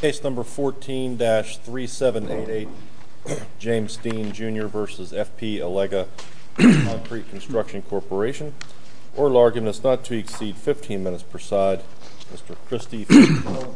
Case number 14-3788, James Dean Jr. v. F.P. Allega Concrete Construction Corporation. Oral argument is not to exceed 15 minutes per side. Mr. Christie v. Holland.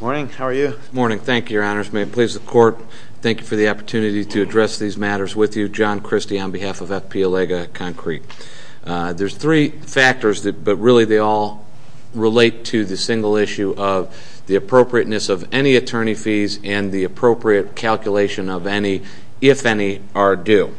Good morning. How are you? Good morning. Thank you, Your Honors. May it please the Court, thank you for the opportunity to address these matters with you. John Christie on behalf of F.P. Allega Concrete. There are three factors, but really they all relate to the single issue of the appropriateness of any attorney fees and the appropriate calculation of any, if any, are due.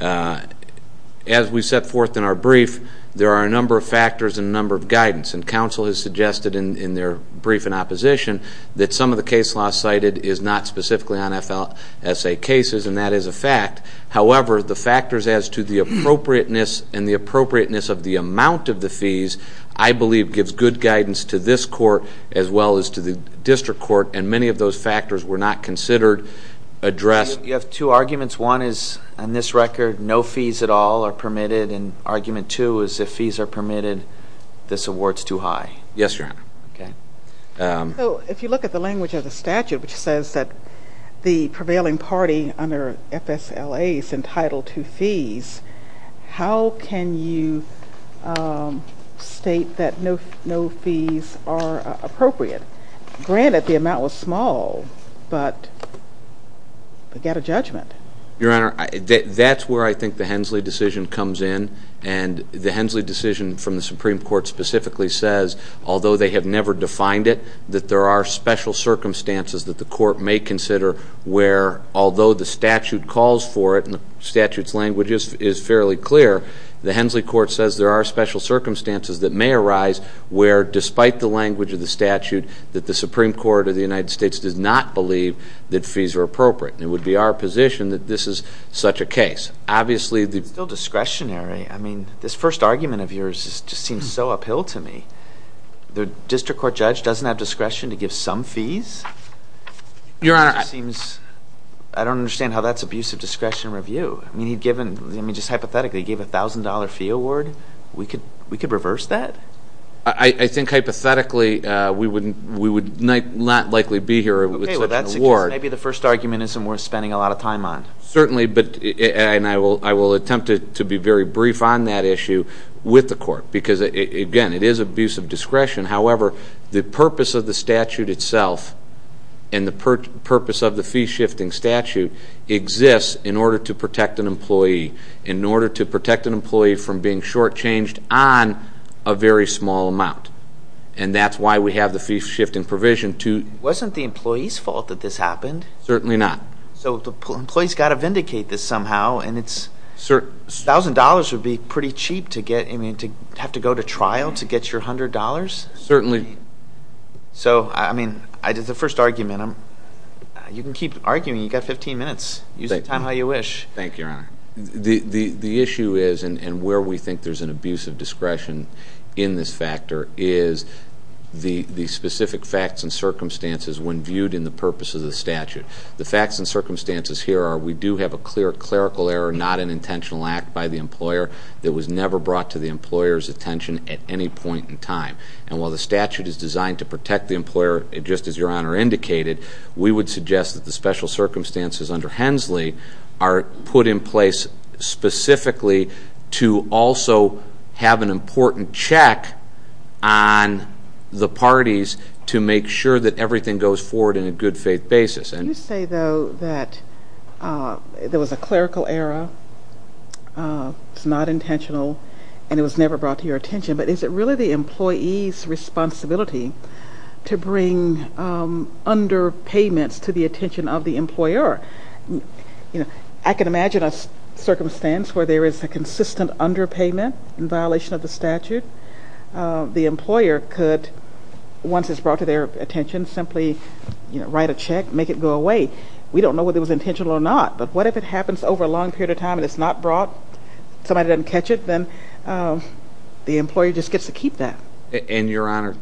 As we set forth in our brief, there are a number of factors and numbers to consider. There is a number of guidance, and counsel has suggested in their brief in opposition that some of the case law cited is not specifically on F.L.S.A. cases, and that is a fact. However, the factors as to the appropriateness and the appropriateness of the amount of the fees, I believe gives good guidance to this Court as well as to the District Court, and many of those factors were not considered addressed. You have two arguments. One is, on this record, no fees at all are permitted. And argument two is, if fees are permitted, this award is too high. Yes, Your Honor. Okay. If you look at the language of the statute, which says that the prevailing party under F.S.L.A. is entitled to fees, how can you state that no fees are appropriate? Granted, the amount was small, but get a judgment. Your Honor, that's where I think the Hensley decision comes in, and the Hensley decision from the Supreme Court specifically says, although they have never defined it, that there are special circumstances that the Court may consider where, although the statute calls for it and the statute's language is fairly clear, the Hensley Court says there are special circumstances that may arise where, despite the language of the statute, that the Supreme Court of the United States does not believe that fees are appropriate. It would be our position that this is such a case. It's still discretionary. I mean, this first argument of yours just seems so uphill to me. The district court judge doesn't have discretion to give some fees? Your Honor, I don't understand how that's abuse of discretion review. I mean, just hypothetically, he gave a $1,000 fee award. We could reverse that? I think, hypothetically, we would not likely be here with such an award. In that case, maybe the first argument isn't worth spending a lot of time on. Certainly, and I will attempt to be very brief on that issue with the Court because, again, it is abuse of discretion. However, the purpose of the statute itself and the purpose of the fee-shifting statute exists in order to protect an employee, in order to protect an employee from being shortchanged on a very small amount, and that's why we have the fee-shifting provision to ---- Wasn't the employee's fault that this happened? Certainly not. So the employee's got to vindicate this somehow, and $1,000 would be pretty cheap to get, I mean, to have to go to trial to get your $100? Certainly. So, I mean, the first argument, you can keep arguing. You've got 15 minutes. Use the time how you wish. Thank you, Your Honor. The issue is, and where we think there's an abuse of discretion in this factor, is the specific facts and circumstances when viewed in the purpose of the statute. The facts and circumstances here are we do have a clear clerical error, not an intentional act by the employer that was never brought to the employer's attention at any point in time. And while the statute is designed to protect the employer, just as Your Honor indicated, we would suggest that the special circumstances under Hensley are put in place specifically to also have an important check on the parties to make sure that everything goes forward in a good faith basis. You say, though, that there was a clerical error, it's not intentional, and it was never brought to your attention. But is it really the employee's responsibility to bring underpayments to the attention of the employer? I can imagine a circumstance where there is a consistent underpayment in violation of the statute. The employer could, once it's brought to their attention, simply write a check, make it go away. We don't know whether it was intentional or not, but what if it happens over a long period of time and it's not brought, somebody doesn't catch it, then the employee just gets to keep that. And, Your Honor,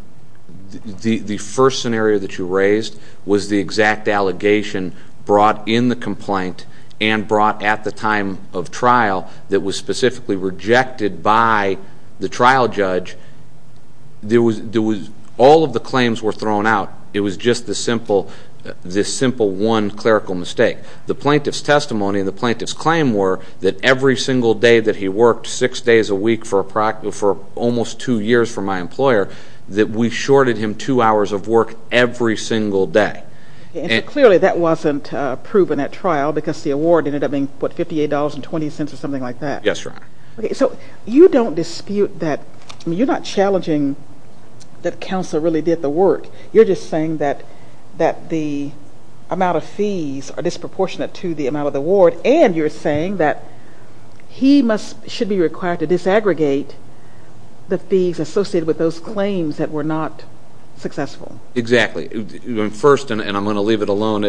the first scenario that you raised was the exact allegation brought in the complaint and brought at the time of trial that was specifically rejected by the trial judge. All of the claims were thrown out. It was just this simple one clerical mistake. The plaintiff's testimony and the plaintiff's claim were that every single day that he worked, six days a week for almost two years for my employer, that we shorted him two hours of work every single day. Clearly, that wasn't proven at trial because the award ended up being, what, $58.20 or something like that. Yes, Your Honor. So you don't dispute that. You're not challenging that counsel really did the work. You're just saying that the amount of fees are disproportionate to the amount of the award, and you're saying that he should be required to disaggregate the fees associated with those claims that were not successful. Exactly. First, and I'm going to leave it alone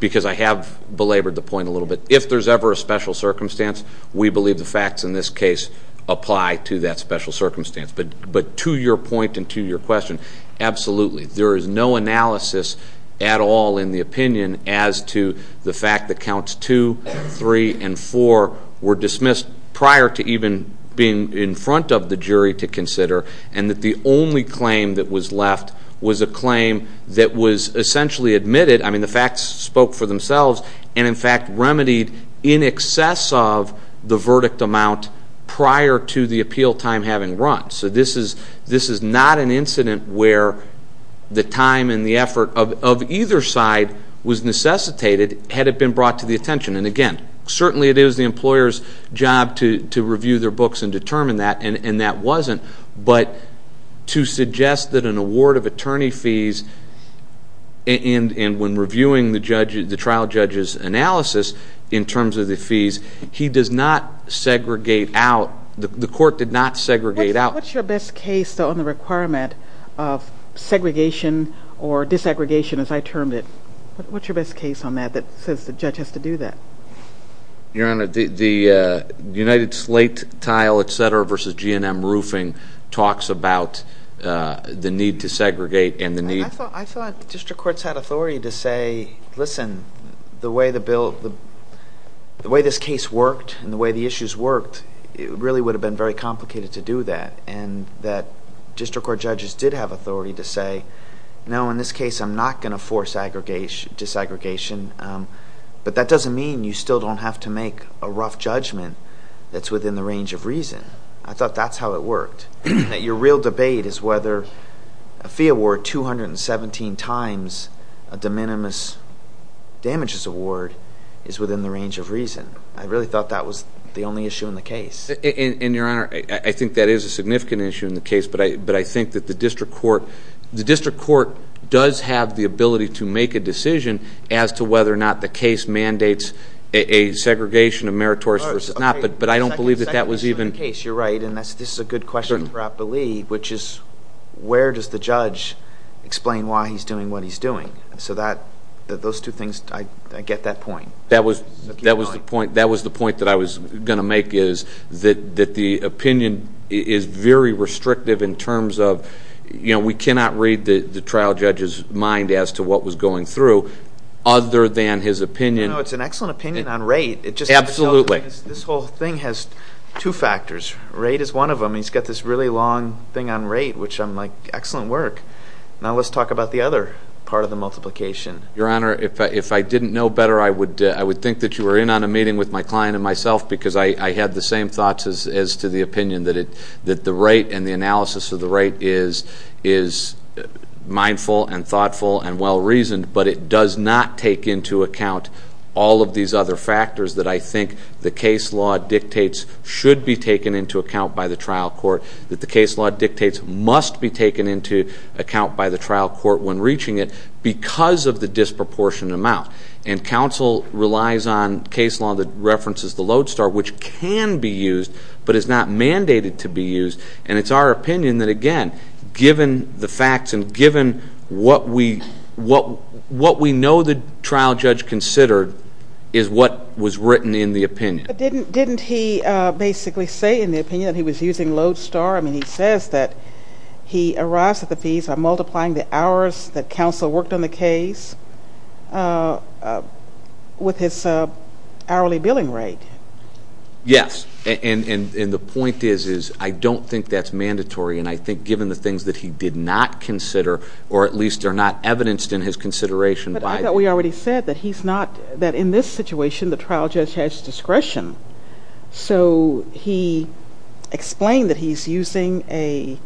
because I have belabored the point a little bit, if there's ever a special circumstance, we believe the facts in this case apply to that special circumstance. But to your point and to your question, absolutely. There is no analysis at all in the opinion as to the fact that counts 2, 3, and 4 were dismissed prior to even being in front of the jury to consider, and that the only claim that was left was a claim that was essentially admitted. I mean, the facts spoke for themselves and, in fact, remedied in excess of the verdict amount prior to the appeal time having run. So this is not an incident where the time and the effort of either side was necessitated had it been brought to the attention. And, again, certainly it is the employer's job to review their books and determine that, and that wasn't. But to suggest that an award of attorney fees and when reviewing the trial judge's analysis in terms of the fees, he does not segregate out. The court did not segregate out. What's your best case on the requirement of segregation or disaggregation, as I termed it? What's your best case on that that says the judge has to do that? Your Honor, the United Slate Tile, et cetera, versus GNM Roofing talks about the need to segregate and the need... I thought district courts had authority to say, listen, the way the bill... the way this case worked and the way the issues worked, it really would have been very complicated to do that, and that district court judges did have authority to say, no, in this case I'm not going to force disaggregation. But that doesn't mean you still don't have to make a rough judgment that's within the range of reason. I thought that's how it worked. That your real debate is whether a fee award 217 times a de minimis damages award is within the range of reason. I really thought that was the only issue in the case. And, Your Honor, I think that is a significant issue in the case. But I think that the district court... the district court does have the ability to make a decision as to whether or not the case mandates a segregation of meritorious... But I don't believe that that was even... You're right. And this is a good question for Appali, which is where does the judge explain why he's doing what he's doing? So that... those two things, I get that point. That was the point that I was going to make is that the opinion is very restrictive in terms of... You know, we cannot read the trial judge's mind as to what was going through, other than his opinion... You know, it's an excellent opinion on rate. Absolutely. This whole thing has two factors. Rate is one of them. He's got this really long thing on rate, which I'm like, excellent work. Now let's talk about the other part of the multiplication. Your Honor, if I didn't know better, I would think that you were in on a meeting with my client and myself... because I had the same thoughts as to the opinion that it... that the rate and the analysis of the rate is mindful and thoughtful and well-reasoned... but it does not take into account all of these other factors that I think the case law dictates should be taken into account by the trial court... that the case law dictates must be taken into account by the trial court when reaching it, because of the disproportionate amount. And, counsel relies on case law that references the Lodestar, which can be used, but is not mandated to be used. And, it's our opinion that again, given the facts and given what we know the trial judge considered, is what was written in the opinion. But, didn't he basically say in the opinion that he was using Lodestar? I mean, he says that he arrives at the fees by multiplying the hours that counsel worked on the case with his hourly billing rate. Yes. And, the point is, I don't think that's mandatory. And, I think given the things that he did not consider, or at least are not evidenced in his consideration by... So, he explained that he's using a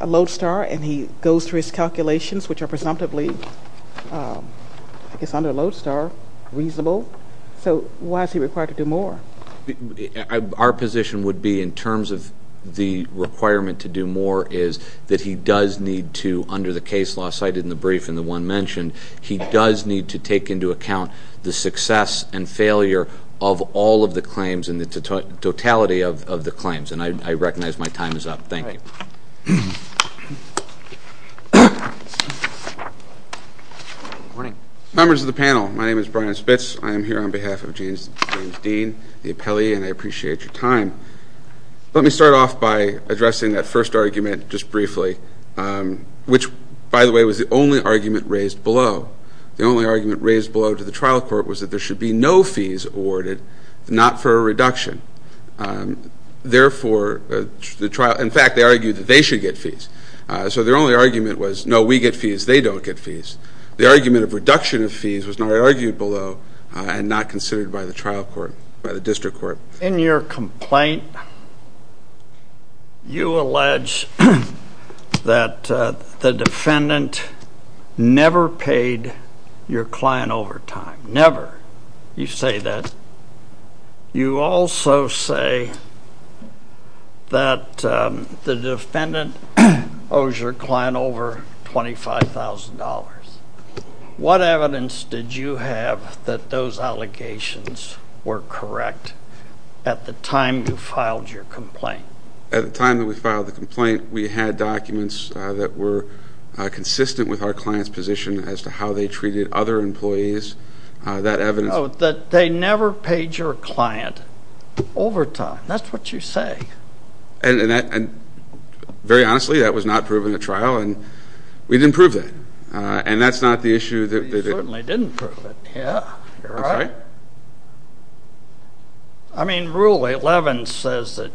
Lodestar, and he goes through his calculations, which are presumptively, I guess under Lodestar, reasonable. So, why is he required to do more? Our position would be, in terms of the requirement to do more, is that he does need to, under the case law cited in the brief and the one mentioned... of all of the claims and the totality of the claims. And, I recognize my time is up. Thank you. All right. Good morning. Members of the panel, my name is Brian Spitz. I am here on behalf of James Dean, the appellee, and I appreciate your time. Let me start off by addressing that first argument, just briefly. Which, by the way, was the only argument raised below. The only argument raised below to the trial court was that there should be no fees awarded, not for a reduction. Therefore, the trial... In fact, they argued that they should get fees. So, their only argument was, no, we get fees, they don't get fees. The argument of reduction of fees was not argued below, and not considered by the trial court, by the district court. In your complaint, you allege that the defendant never paid your client overtime. Never. You say that. You also say that the defendant owes your client over $25,000. What evidence did you have that those allegations were correct at the time you filed your complaint? At the time that we filed the complaint, we had documents that were consistent with our client's position as to how they treated other employees. That evidence... Oh, that they never paid your client overtime. That's what you say. And, very honestly, that was not proven at trial, and we didn't prove that. And that's not the issue that... You certainly didn't prove it, yeah. You're right. I mean, Rule 11 says that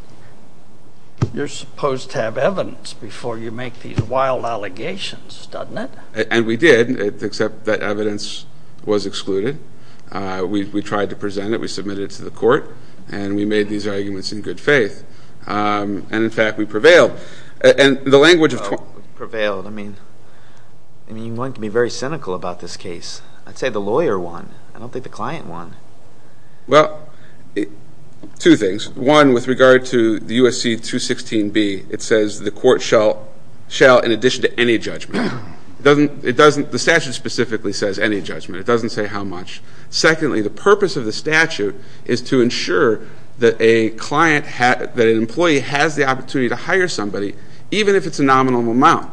you're supposed to have evidence before you make these wild allegations, doesn't it? And we did, except that evidence was excluded. We tried to present it. We submitted it to the court, and we made these arguments in good faith. And, in fact, we prevailed. And the language of... Prevailed. I mean, you want to be very cynical about this case. I'd say the lawyer won. I don't think the client won. Well, two things. One, with regard to the USC 216B, it says the court shall, in addition to any judgment... It doesn't... The statute specifically says any judgment. It doesn't say how much. Secondly, the purpose of the statute is to ensure that a client has... that an employee has the opportunity to hire somebody, even if it's a nominal amount.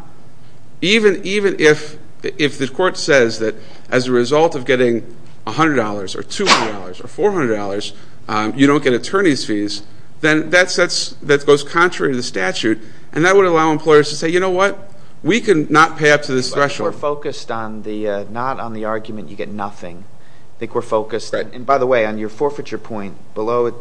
Even if the court says that as a result of getting $100 or $200 or $400, you don't get attorney's fees, then that goes contrary to the statute, and that would allow employers to say, you know what? We cannot pay up to this threshold. We're focused on the... not on the argument you get nothing. I think we're focused... Right. And, by the way, on your forfeiture point, below it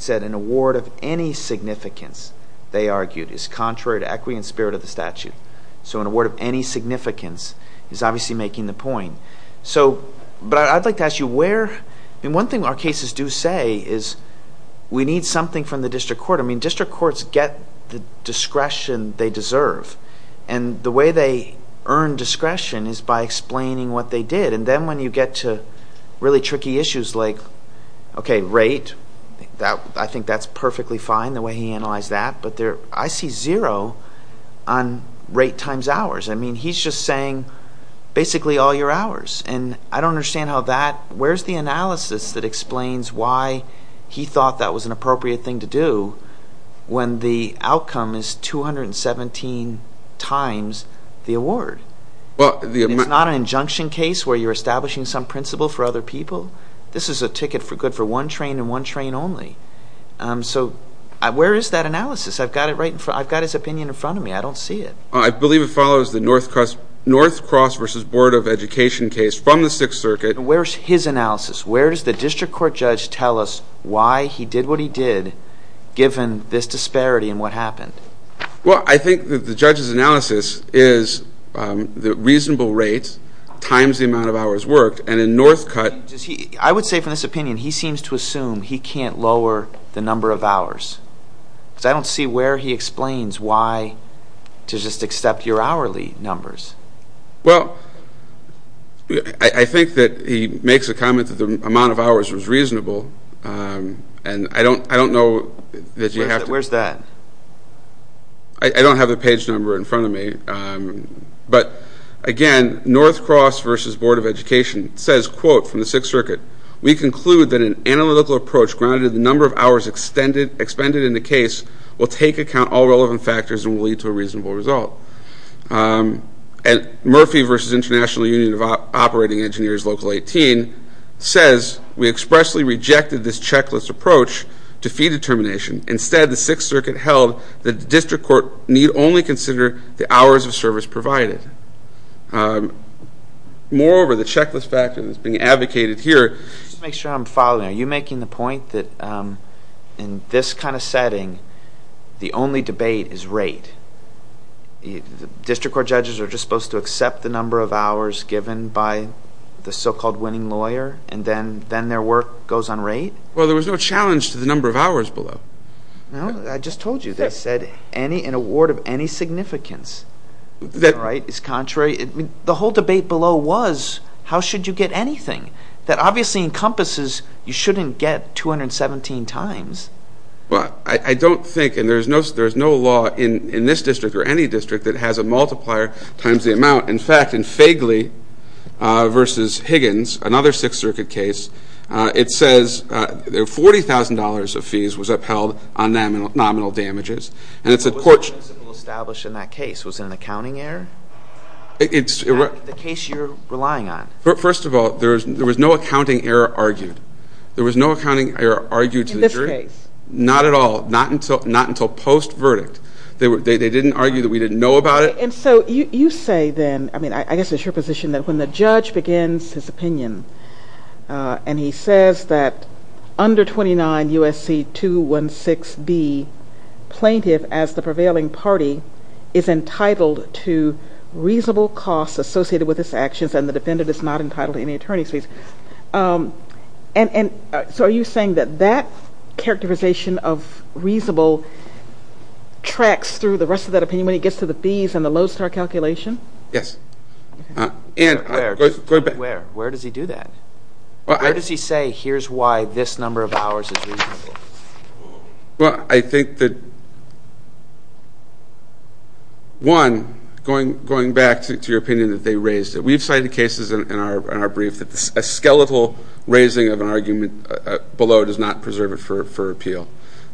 said an award of any significance, they argued, is contrary to equity and spirit of the statute. So, an award of any significance is obviously making the point. So, but I'd like to ask you where... I mean, one thing our cases do say is we need something from the district court. I mean, district courts get the discretion they deserve. And the way they earn discretion is by explaining what they did. And then when you get to really tricky issues like, okay, rate. I think that's perfectly fine, the way he analyzed that. But there... I see zero on rate times hours. I mean, he's just saying basically all your hours. And I don't understand how that... when the outcome is 217 times the award. Well, the... It's not an injunction case where you're establishing some principle for other people. This is a ticket for good for one train and one train only. So, where is that analysis? I've got it right in front... I've got his opinion in front of me. I don't see it. I believe it follows the North Cross versus Board of Education case from the Sixth Circuit. Where's his analysis? Where does the district court judge tell us why he did what he did given this disparity and what happened? Well, I think that the judge's analysis is the reasonable rate times the amount of hours worked. And in Northcutt... I would say from this opinion, he seems to assume he can't lower the number of hours. Because I don't see where he explains why to just accept your hourly numbers. Well, I think that he makes a comment that the amount of hours was reasonable. And I don't know that you have to... Where's that? I don't have the page number in front of me. But, again, North Cross versus Board of Education says, quote, from the Sixth Circuit, we conclude that an analytical approach grounded in the number of hours expended in the case will take account all relevant factors and will lead to a reasonable result. And Murphy versus International Union of Operating Engineers Local 18 says, we expressly rejected this checklist approach to fee determination. Instead, the Sixth Circuit held that the district court need only consider the hours of service provided. Moreover, the checklist factor that's being advocated here... Just to make sure I'm following. Are you making the point that in this kind of setting, the only debate is rate? District court judges are just supposed to accept the number of hours given by the so-called winning lawyer, and then their work goes on rate? Well, there was no challenge to the number of hours below. No? I just told you. They said an award of any significance. That's right. It's contrary. The whole debate below was, how should you get anything? That obviously encompasses, you shouldn't get 217 times. Well, I don't think, and there's no law in this district or any district that has a multiplier times the amount. In fact, in Fegley versus Higgins, another Sixth Circuit case, it says $40,000 of fees was upheld on nominal damages. What was the principle established in that case? Was it an accounting error? The case you're relying on. First of all, there was no accounting error argued. There was no accounting error argued to the jury. In this case? Not at all. Not until post-verdict. They didn't argue that we didn't know about it. And so you say then, I mean, I guess it's your position that when the judge begins his opinion, and he says that under 29 U.S.C. 216B, plaintiff, as the prevailing party, is entitled to reasonable costs associated with his actions and the defendant is not entitled to any attorney's fees. And so are you saying that that characterization of reasonable tracks through the rest of that opinion when he gets to the fees and the low-star calculation? Yes. Where? Where does he do that? Where does he say, here's why this number of hours is reasonable? Well, I think that, one, going back to your opinion that they raised it. We've cited cases in our brief that a skeletal raising of an argument below does not preserve it for appeal.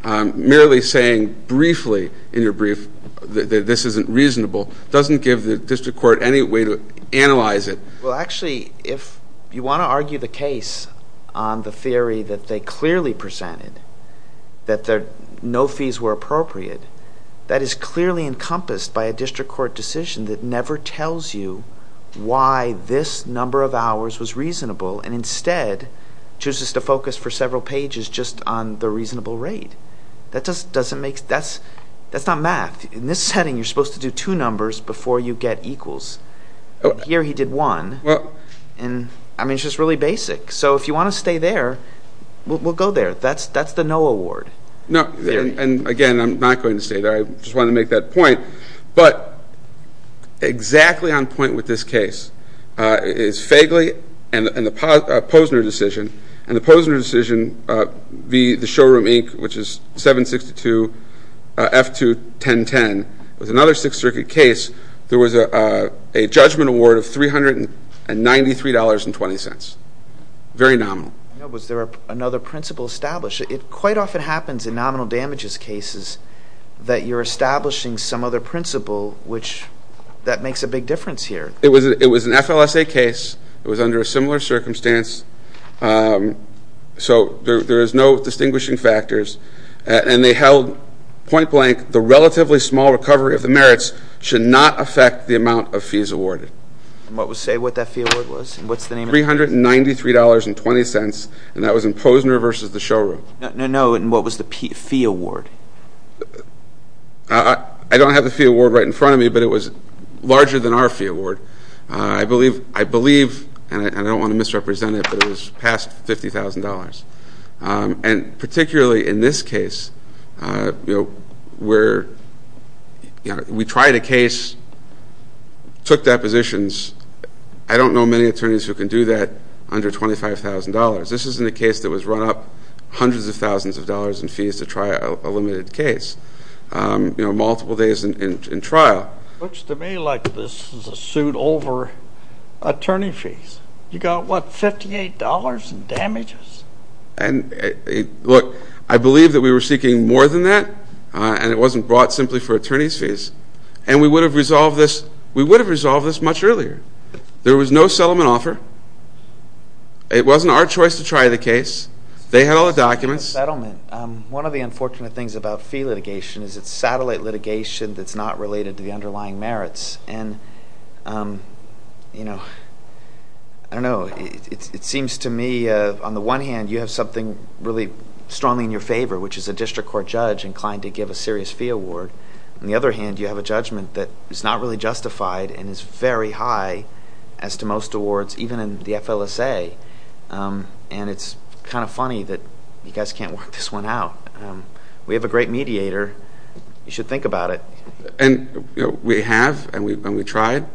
Merely saying briefly in your brief that this isn't reasonable doesn't give the district court any way to analyze it. Well, actually, if you want to argue the case on the theory that they clearly presented, that no fees were appropriate, that is clearly encompassed by a district court decision that never tells you why this number of hours was reasonable and instead chooses to focus for several pages just on the reasonable rate. That's not math. In this setting, you're supposed to do two numbers before you get equals. Here he did one. I mean, it's just really basic. So if you want to stay there, we'll go there. That's the no award. And, again, I'm not going to stay there. I just wanted to make that point. But exactly on point with this case is Fagley and the Posner decision, and the Posner decision v. The Showroom, Inc., which is 762 F2-1010. It was another Sixth Circuit case. There was a judgment award of $393.20. Very nominal. Was there another principle established? It quite often happens in nominal damages cases that you're establishing some other principle, which that makes a big difference here. It was an FLSA case. It was under a similar circumstance. So there is no distinguishing factors. And they held point blank, the relatively small recovery of the merits should not affect the amount of fees awarded. Say what that fee award was and what's the name of it? It was $393.20, and that was in Posner v. The Showroom. No. And what was the fee award? I don't have the fee award right in front of me, but it was larger than our fee award. I believe, and I don't want to misrepresent it, but it was past $50,000. And particularly in this case, we tried a case, took depositions. I don't know many attorneys who can do that under $25,000. This is in a case that was run up hundreds of thousands of dollars in fees to try a limited case, you know, multiple days in trial. Looks to me like this is a suit over attorney fees. You got, what, $58 in damages? And, look, I believe that we were seeking more than that, and it wasn't brought simply for attorney's fees. And we would have resolved this much earlier. There was no settlement offer. It wasn't our choice to try the case. They had all the documents. One of the unfortunate things about fee litigation is it's satellite litigation that's not related to the underlying merits. And, you know, I don't know. It seems to me on the one hand you have something really strongly in your favor, which is a district court judge inclined to give a serious fee award. On the other hand, you have a judgment that is not really justified and is very high as to most awards, even in the FLSA. And it's kind of funny that you guys can't work this one out. We have a great mediator. You should think about it. And we have, and we tried,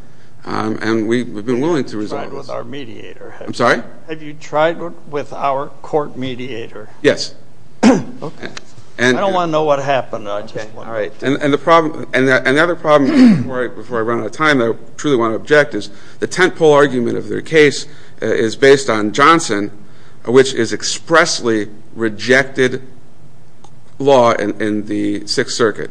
and we've been willing to resolve this. Have you tried with our mediator? I'm sorry? Have you tried with our court mediator? Yes. I don't want to know what happened. All right. And the other problem, before I run out of time, I truly want to object, is the tentpole argument of their case is based on Johnson, which is expressly rejected law in the Sixth Circuit.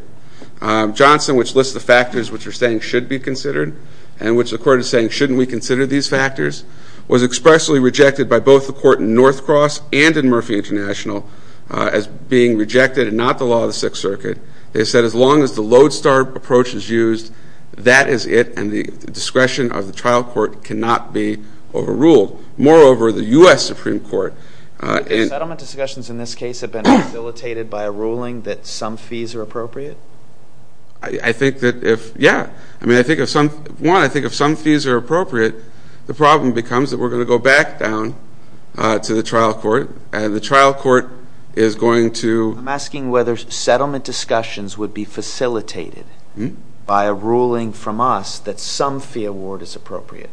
Johnson, which lists the factors which are saying should be considered and which the court is saying shouldn't we consider these factors, was expressly rejected by both the court in North Cross and in Murphy International as being rejected and not the law of the Sixth Circuit. They said as long as the lodestar approach is used, that is it, and the discretion of the trial court cannot be overruled. Moreover, the U.S. Supreme Court. Settlement discussions in this case have been facilitated by a ruling that some fees are appropriate? I think that if, yeah. One, I think if some fees are appropriate, the problem becomes that we're going to go back down to the trial court, and the trial court is going to. I'm asking whether settlement discussions would be facilitated by a ruling from us that some fee award is appropriate.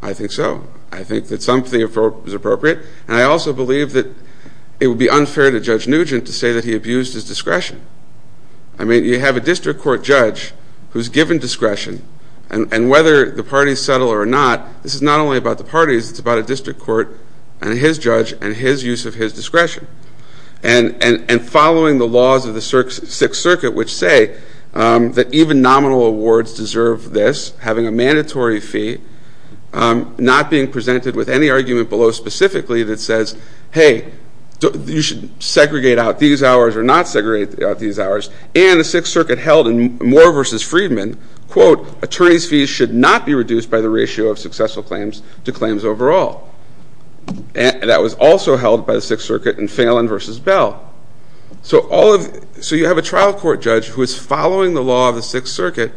I think so. I think that some fee is appropriate, and I also believe that it would be unfair to Judge Nugent to say that he abused his discretion. I mean, you have a district court judge who's given discretion, and whether the parties settle or not, this is not only about the parties, it's about a district court and his judge and his use of his discretion. And following the laws of the Sixth Circuit, which say that even nominal awards deserve this, having a mandatory fee, not being presented with any argument below specifically that says, hey, you should segregate out these hours or not segregate out these hours, and the Sixth Circuit held in Moore v. Friedman, quote, attorneys' fees should not be reduced by the ratio of successful claims to claims overall. That was also held by the Sixth Circuit in Phelan v. Bell. So you have a trial court judge who is following the law of the Sixth Circuit,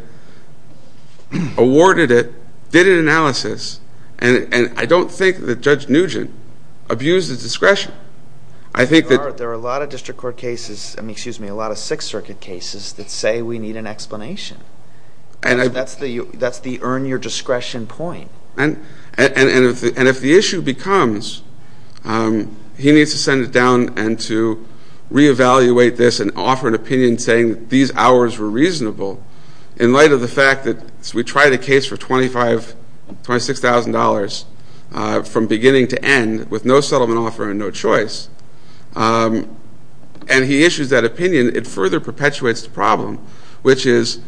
awarded it, did an analysis, and I don't think that Judge Nugent abused his discretion. There are a lot of district court cases, I mean, excuse me, a lot of Sixth Circuit cases that say we need an explanation. That's the earn your discretion point. And if the issue becomes he needs to send it down and to reevaluate this and offer an opinion saying that these hours were reasonable, in light of the fact that we tried a case for $26,000 from beginning to end with no settlement offer and no choice, and he issues that opinion, it further perpetuates the problem, which is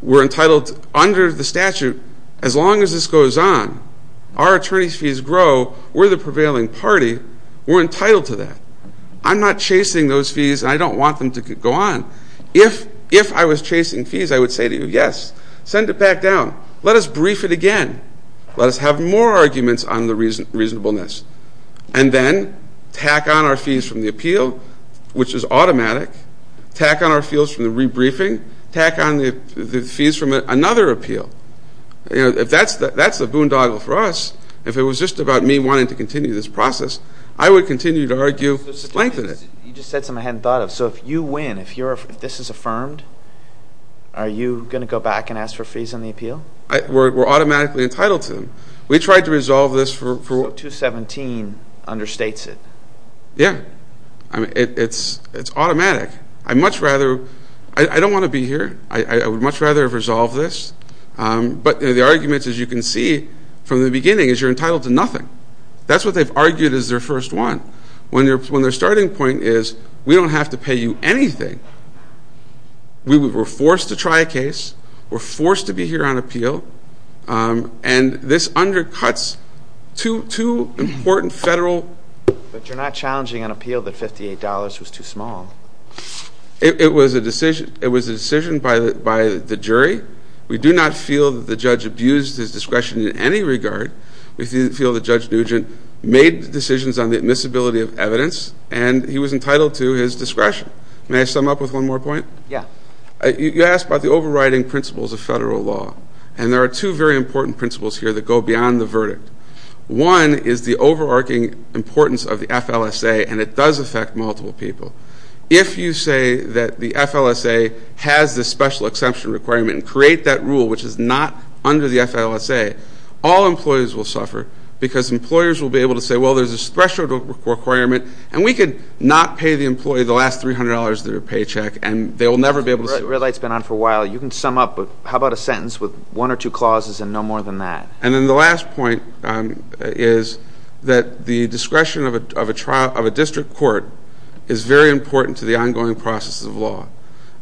we're entitled under the statute, as long as this goes on, our attorneys' fees grow, we're the prevailing party, we're entitled to that. I'm not chasing those fees, and I don't want them to go on. If I was chasing fees, I would say to you, yes, send it back down. Let us brief it again. Let us have more arguments on the reasonableness. And then tack on our fees from the appeal, which is automatic, tack on our fees from the rebriefing, tack on the fees from another appeal. If that's the boondoggle for us, if it was just about me wanting to continue this process, I would continue to argue, lengthen it. You just said something I hadn't thought of. So if you win, if this is affirmed, are you going to go back and ask for fees on the appeal? We're automatically entitled to them. We tried to resolve this for ---- So 217 understates it. Yeah. It's automatic. I'd much rather, I don't want to be here. I would much rather have resolved this. But the arguments, as you can see from the beginning, is you're entitled to nothing. That's what they've argued is their first one. Their starting point is we don't have to pay you anything. We were forced to try a case. We're forced to be here on appeal. And this undercuts two important federal ---- But you're not challenging an appeal that $58 was too small. It was a decision by the jury. We do not feel that the judge abused his discretion in any regard. We feel that Judge Nugent made decisions on the admissibility of evidence, and he was entitled to his discretion. May I sum up with one more point? Yeah. You asked about the overriding principles of federal law. And there are two very important principles here that go beyond the verdict. One is the overarching importance of the FLSA, and it does affect multiple people. If you say that the FLSA has this special exemption requirement and create that rule, which is not under the FLSA, all employees will suffer because employers will be able to say, well, there's this special requirement, and we could not pay the employee the last $300 of their paycheck, and they will never be able to see it. The red light's been on for a while. You can sum up, but how about a sentence with one or two clauses and no more than that? And then the last point is that the discretion of a district court is very important to the ongoing process of law.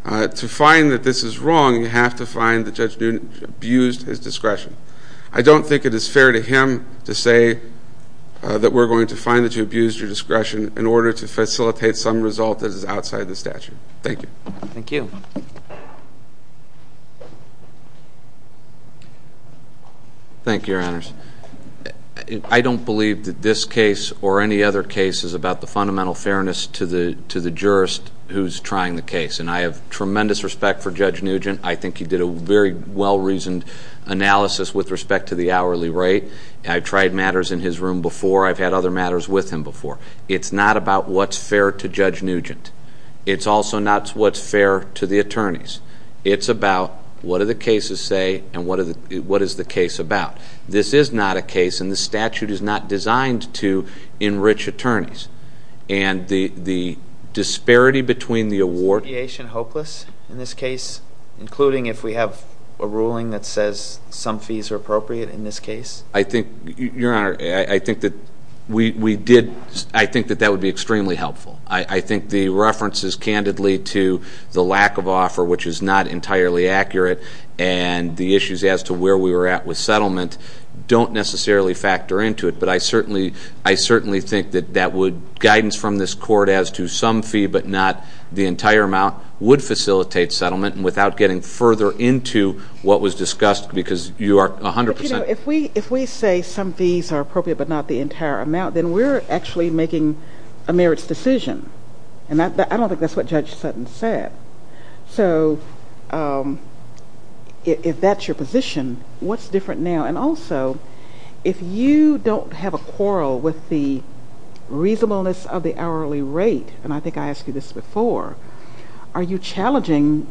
To find that this is wrong, you have to find that Judge Nugent abused his discretion. I don't think it is fair to him to say that we're going to find that you abused your discretion in order to facilitate some result that is outside the statute. Thank you. Thank you. Thank you, Your Honors. I don't believe that this case or any other case is about the fundamental fairness to the jurist who's trying the case, and I have tremendous respect for Judge Nugent. I think he did a very well-reasoned analysis with respect to the hourly rate. I've tried matters in his room before. I've had other matters with him before. It's not about what's fair to Judge Nugent. It's also not what's fair to the attorneys. It's about what do the cases say and what is the case about. This is not a case, and the statute is not designed to enrich attorneys. And the disparity between the award. Is the appeasement hopeless in this case, including if we have a ruling that says some fees are appropriate in this case? Your Honor, I think that that would be extremely helpful. I think the references candidly to the lack of offer, which is not entirely accurate, and the issues as to where we were at with settlement don't necessarily factor into it. But I certainly think that that would, guidance from this court as to some fee but not the entire amount, would facilitate settlement without getting further into what was discussed because you are 100% If we say some fees are appropriate but not the entire amount, then we're actually making a merits decision. And I don't think that's what Judge Sutton said. So if that's your position, what's different now? And also, if you don't have a quarrel with the reasonableness of the hourly rate, and I think I asked you this before, are you challenging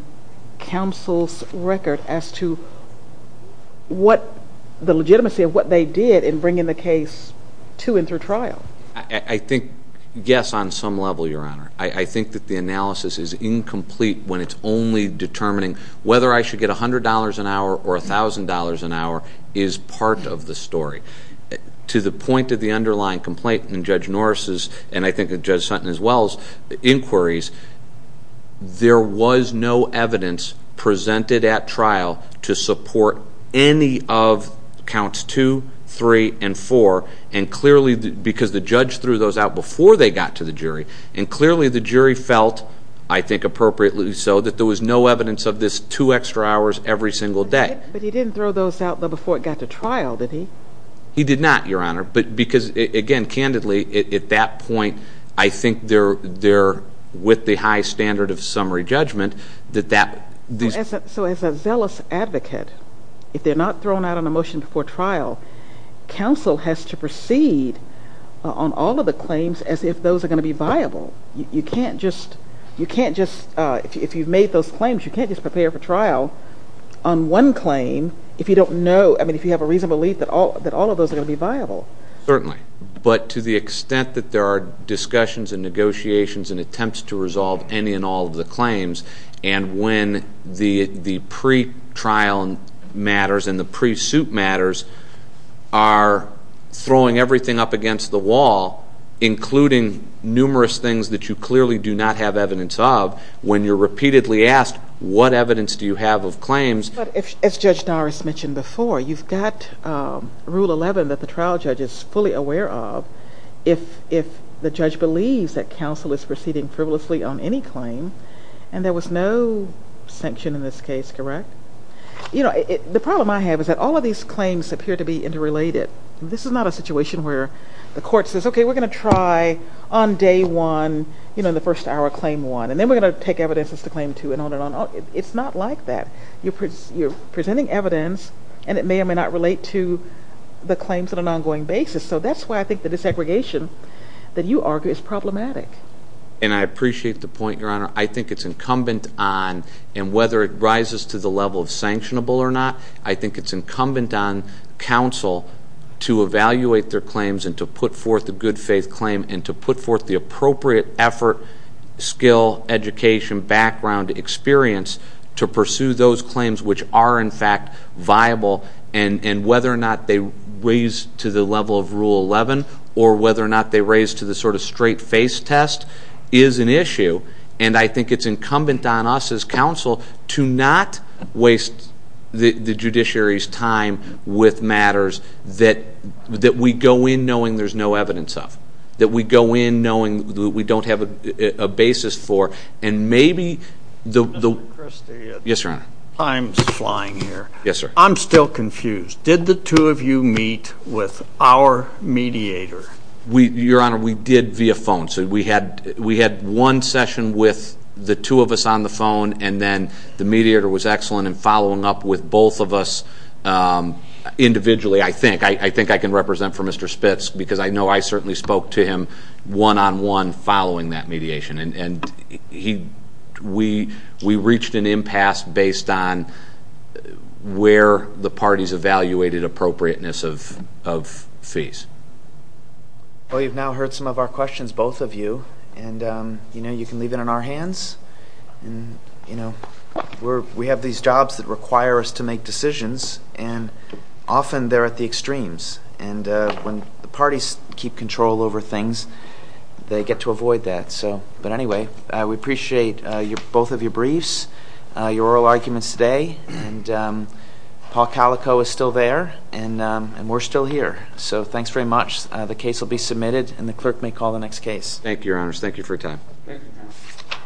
counsel's record as to the legitimacy of what they did in bringing the case to and through trial? I think, yes, on some level, Your Honor. I think that the analysis is incomplete when it's only determining whether I should get $100 an hour or $1,000 an hour is part of the story. To the point of the underlying complaint in Judge Norris' and I think Judge Sutton as well's inquiries, there was no evidence presented at trial to support any of counts 2, 3, and 4, and clearly because the judge threw those out before they got to the jury, and clearly the jury felt, I think appropriately so, that there was no evidence of this two extra hours every single day. But he didn't throw those out before it got to trial, did he? He did not, Your Honor, because again, candidly, at that point, I think they're with the high standard of summary judgment. So as a zealous advocate, if they're not thrown out on a motion before trial, counsel has to proceed on all of the claims as if those are going to be viable. You can't just, if you've made those claims, you can't just prepare for trial on one claim if you don't know, I mean, if you have a reasonable belief that all of those are going to be viable. Certainly. But to the extent that there are discussions and negotiations and attempts to resolve any and all of the claims, and when the pretrial matters and the pre-suit matters are throwing everything up against the wall, including numerous things that you clearly do not have evidence of, when you're repeatedly asked, what evidence do you have of claims? But as Judge Doris mentioned before, you've got Rule 11 that the trial judge is fully aware of. If the judge believes that counsel is proceeding frivolously on any claim, and there was no sanction in this case, correct? You know, the problem I have is that all of these claims appear to be interrelated. This is not a situation where the court says, okay, we're going to try on day one, you know, in the first hour, claim one, and then we're going to take evidence as to claim two and on and on. It's not like that. You're presenting evidence, and it may or may not relate to the claims on an ongoing basis. So that's why I think the desegregation that you argue is problematic. And I appreciate the point, Your Honor. I think it's incumbent on, and whether it rises to the level of sanctionable or not, I think it's incumbent on counsel to evaluate their claims and to put forth a good faith claim and to put forth the appropriate effort, skill, education, background, experience to pursue those claims, which are in fact viable, and whether or not they raise to the level of Rule 11 or whether or not they raise to the sort of straight face test is an issue. And I think it's incumbent on us as counsel to not waste the judiciary's time with matters that we go in knowing there's no evidence of, that we go in knowing that we don't have a basis for, and maybe the... Mr. Christie. Yes, Your Honor. I'm flying here. Yes, sir. I'm still confused. Did the two of you meet with our mediator? Your Honor, we did via phone. So we had one session with the two of us on the phone, and then the mediator was excellent in following up with both of us individually, I think. I think I can represent for Mr. Spitz because I know I certainly spoke to him one-on-one following that mediation, and we reached an impasse based on where the parties evaluated appropriateness of fees. Well, you've now heard some of our questions, both of you, and, you know, you can leave it in our hands. And, you know, we have these jobs that require us to make decisions, and often they're at the extremes. And when the parties keep control over things, they get to avoid that. But anyway, we appreciate both of your briefs, your oral arguments today, and Paul Calico is still there, and we're still here. So thanks very much. The case will be submitted, and the clerk may call the next case. Thank you, Your Honors. Thank you for your time. Thank you.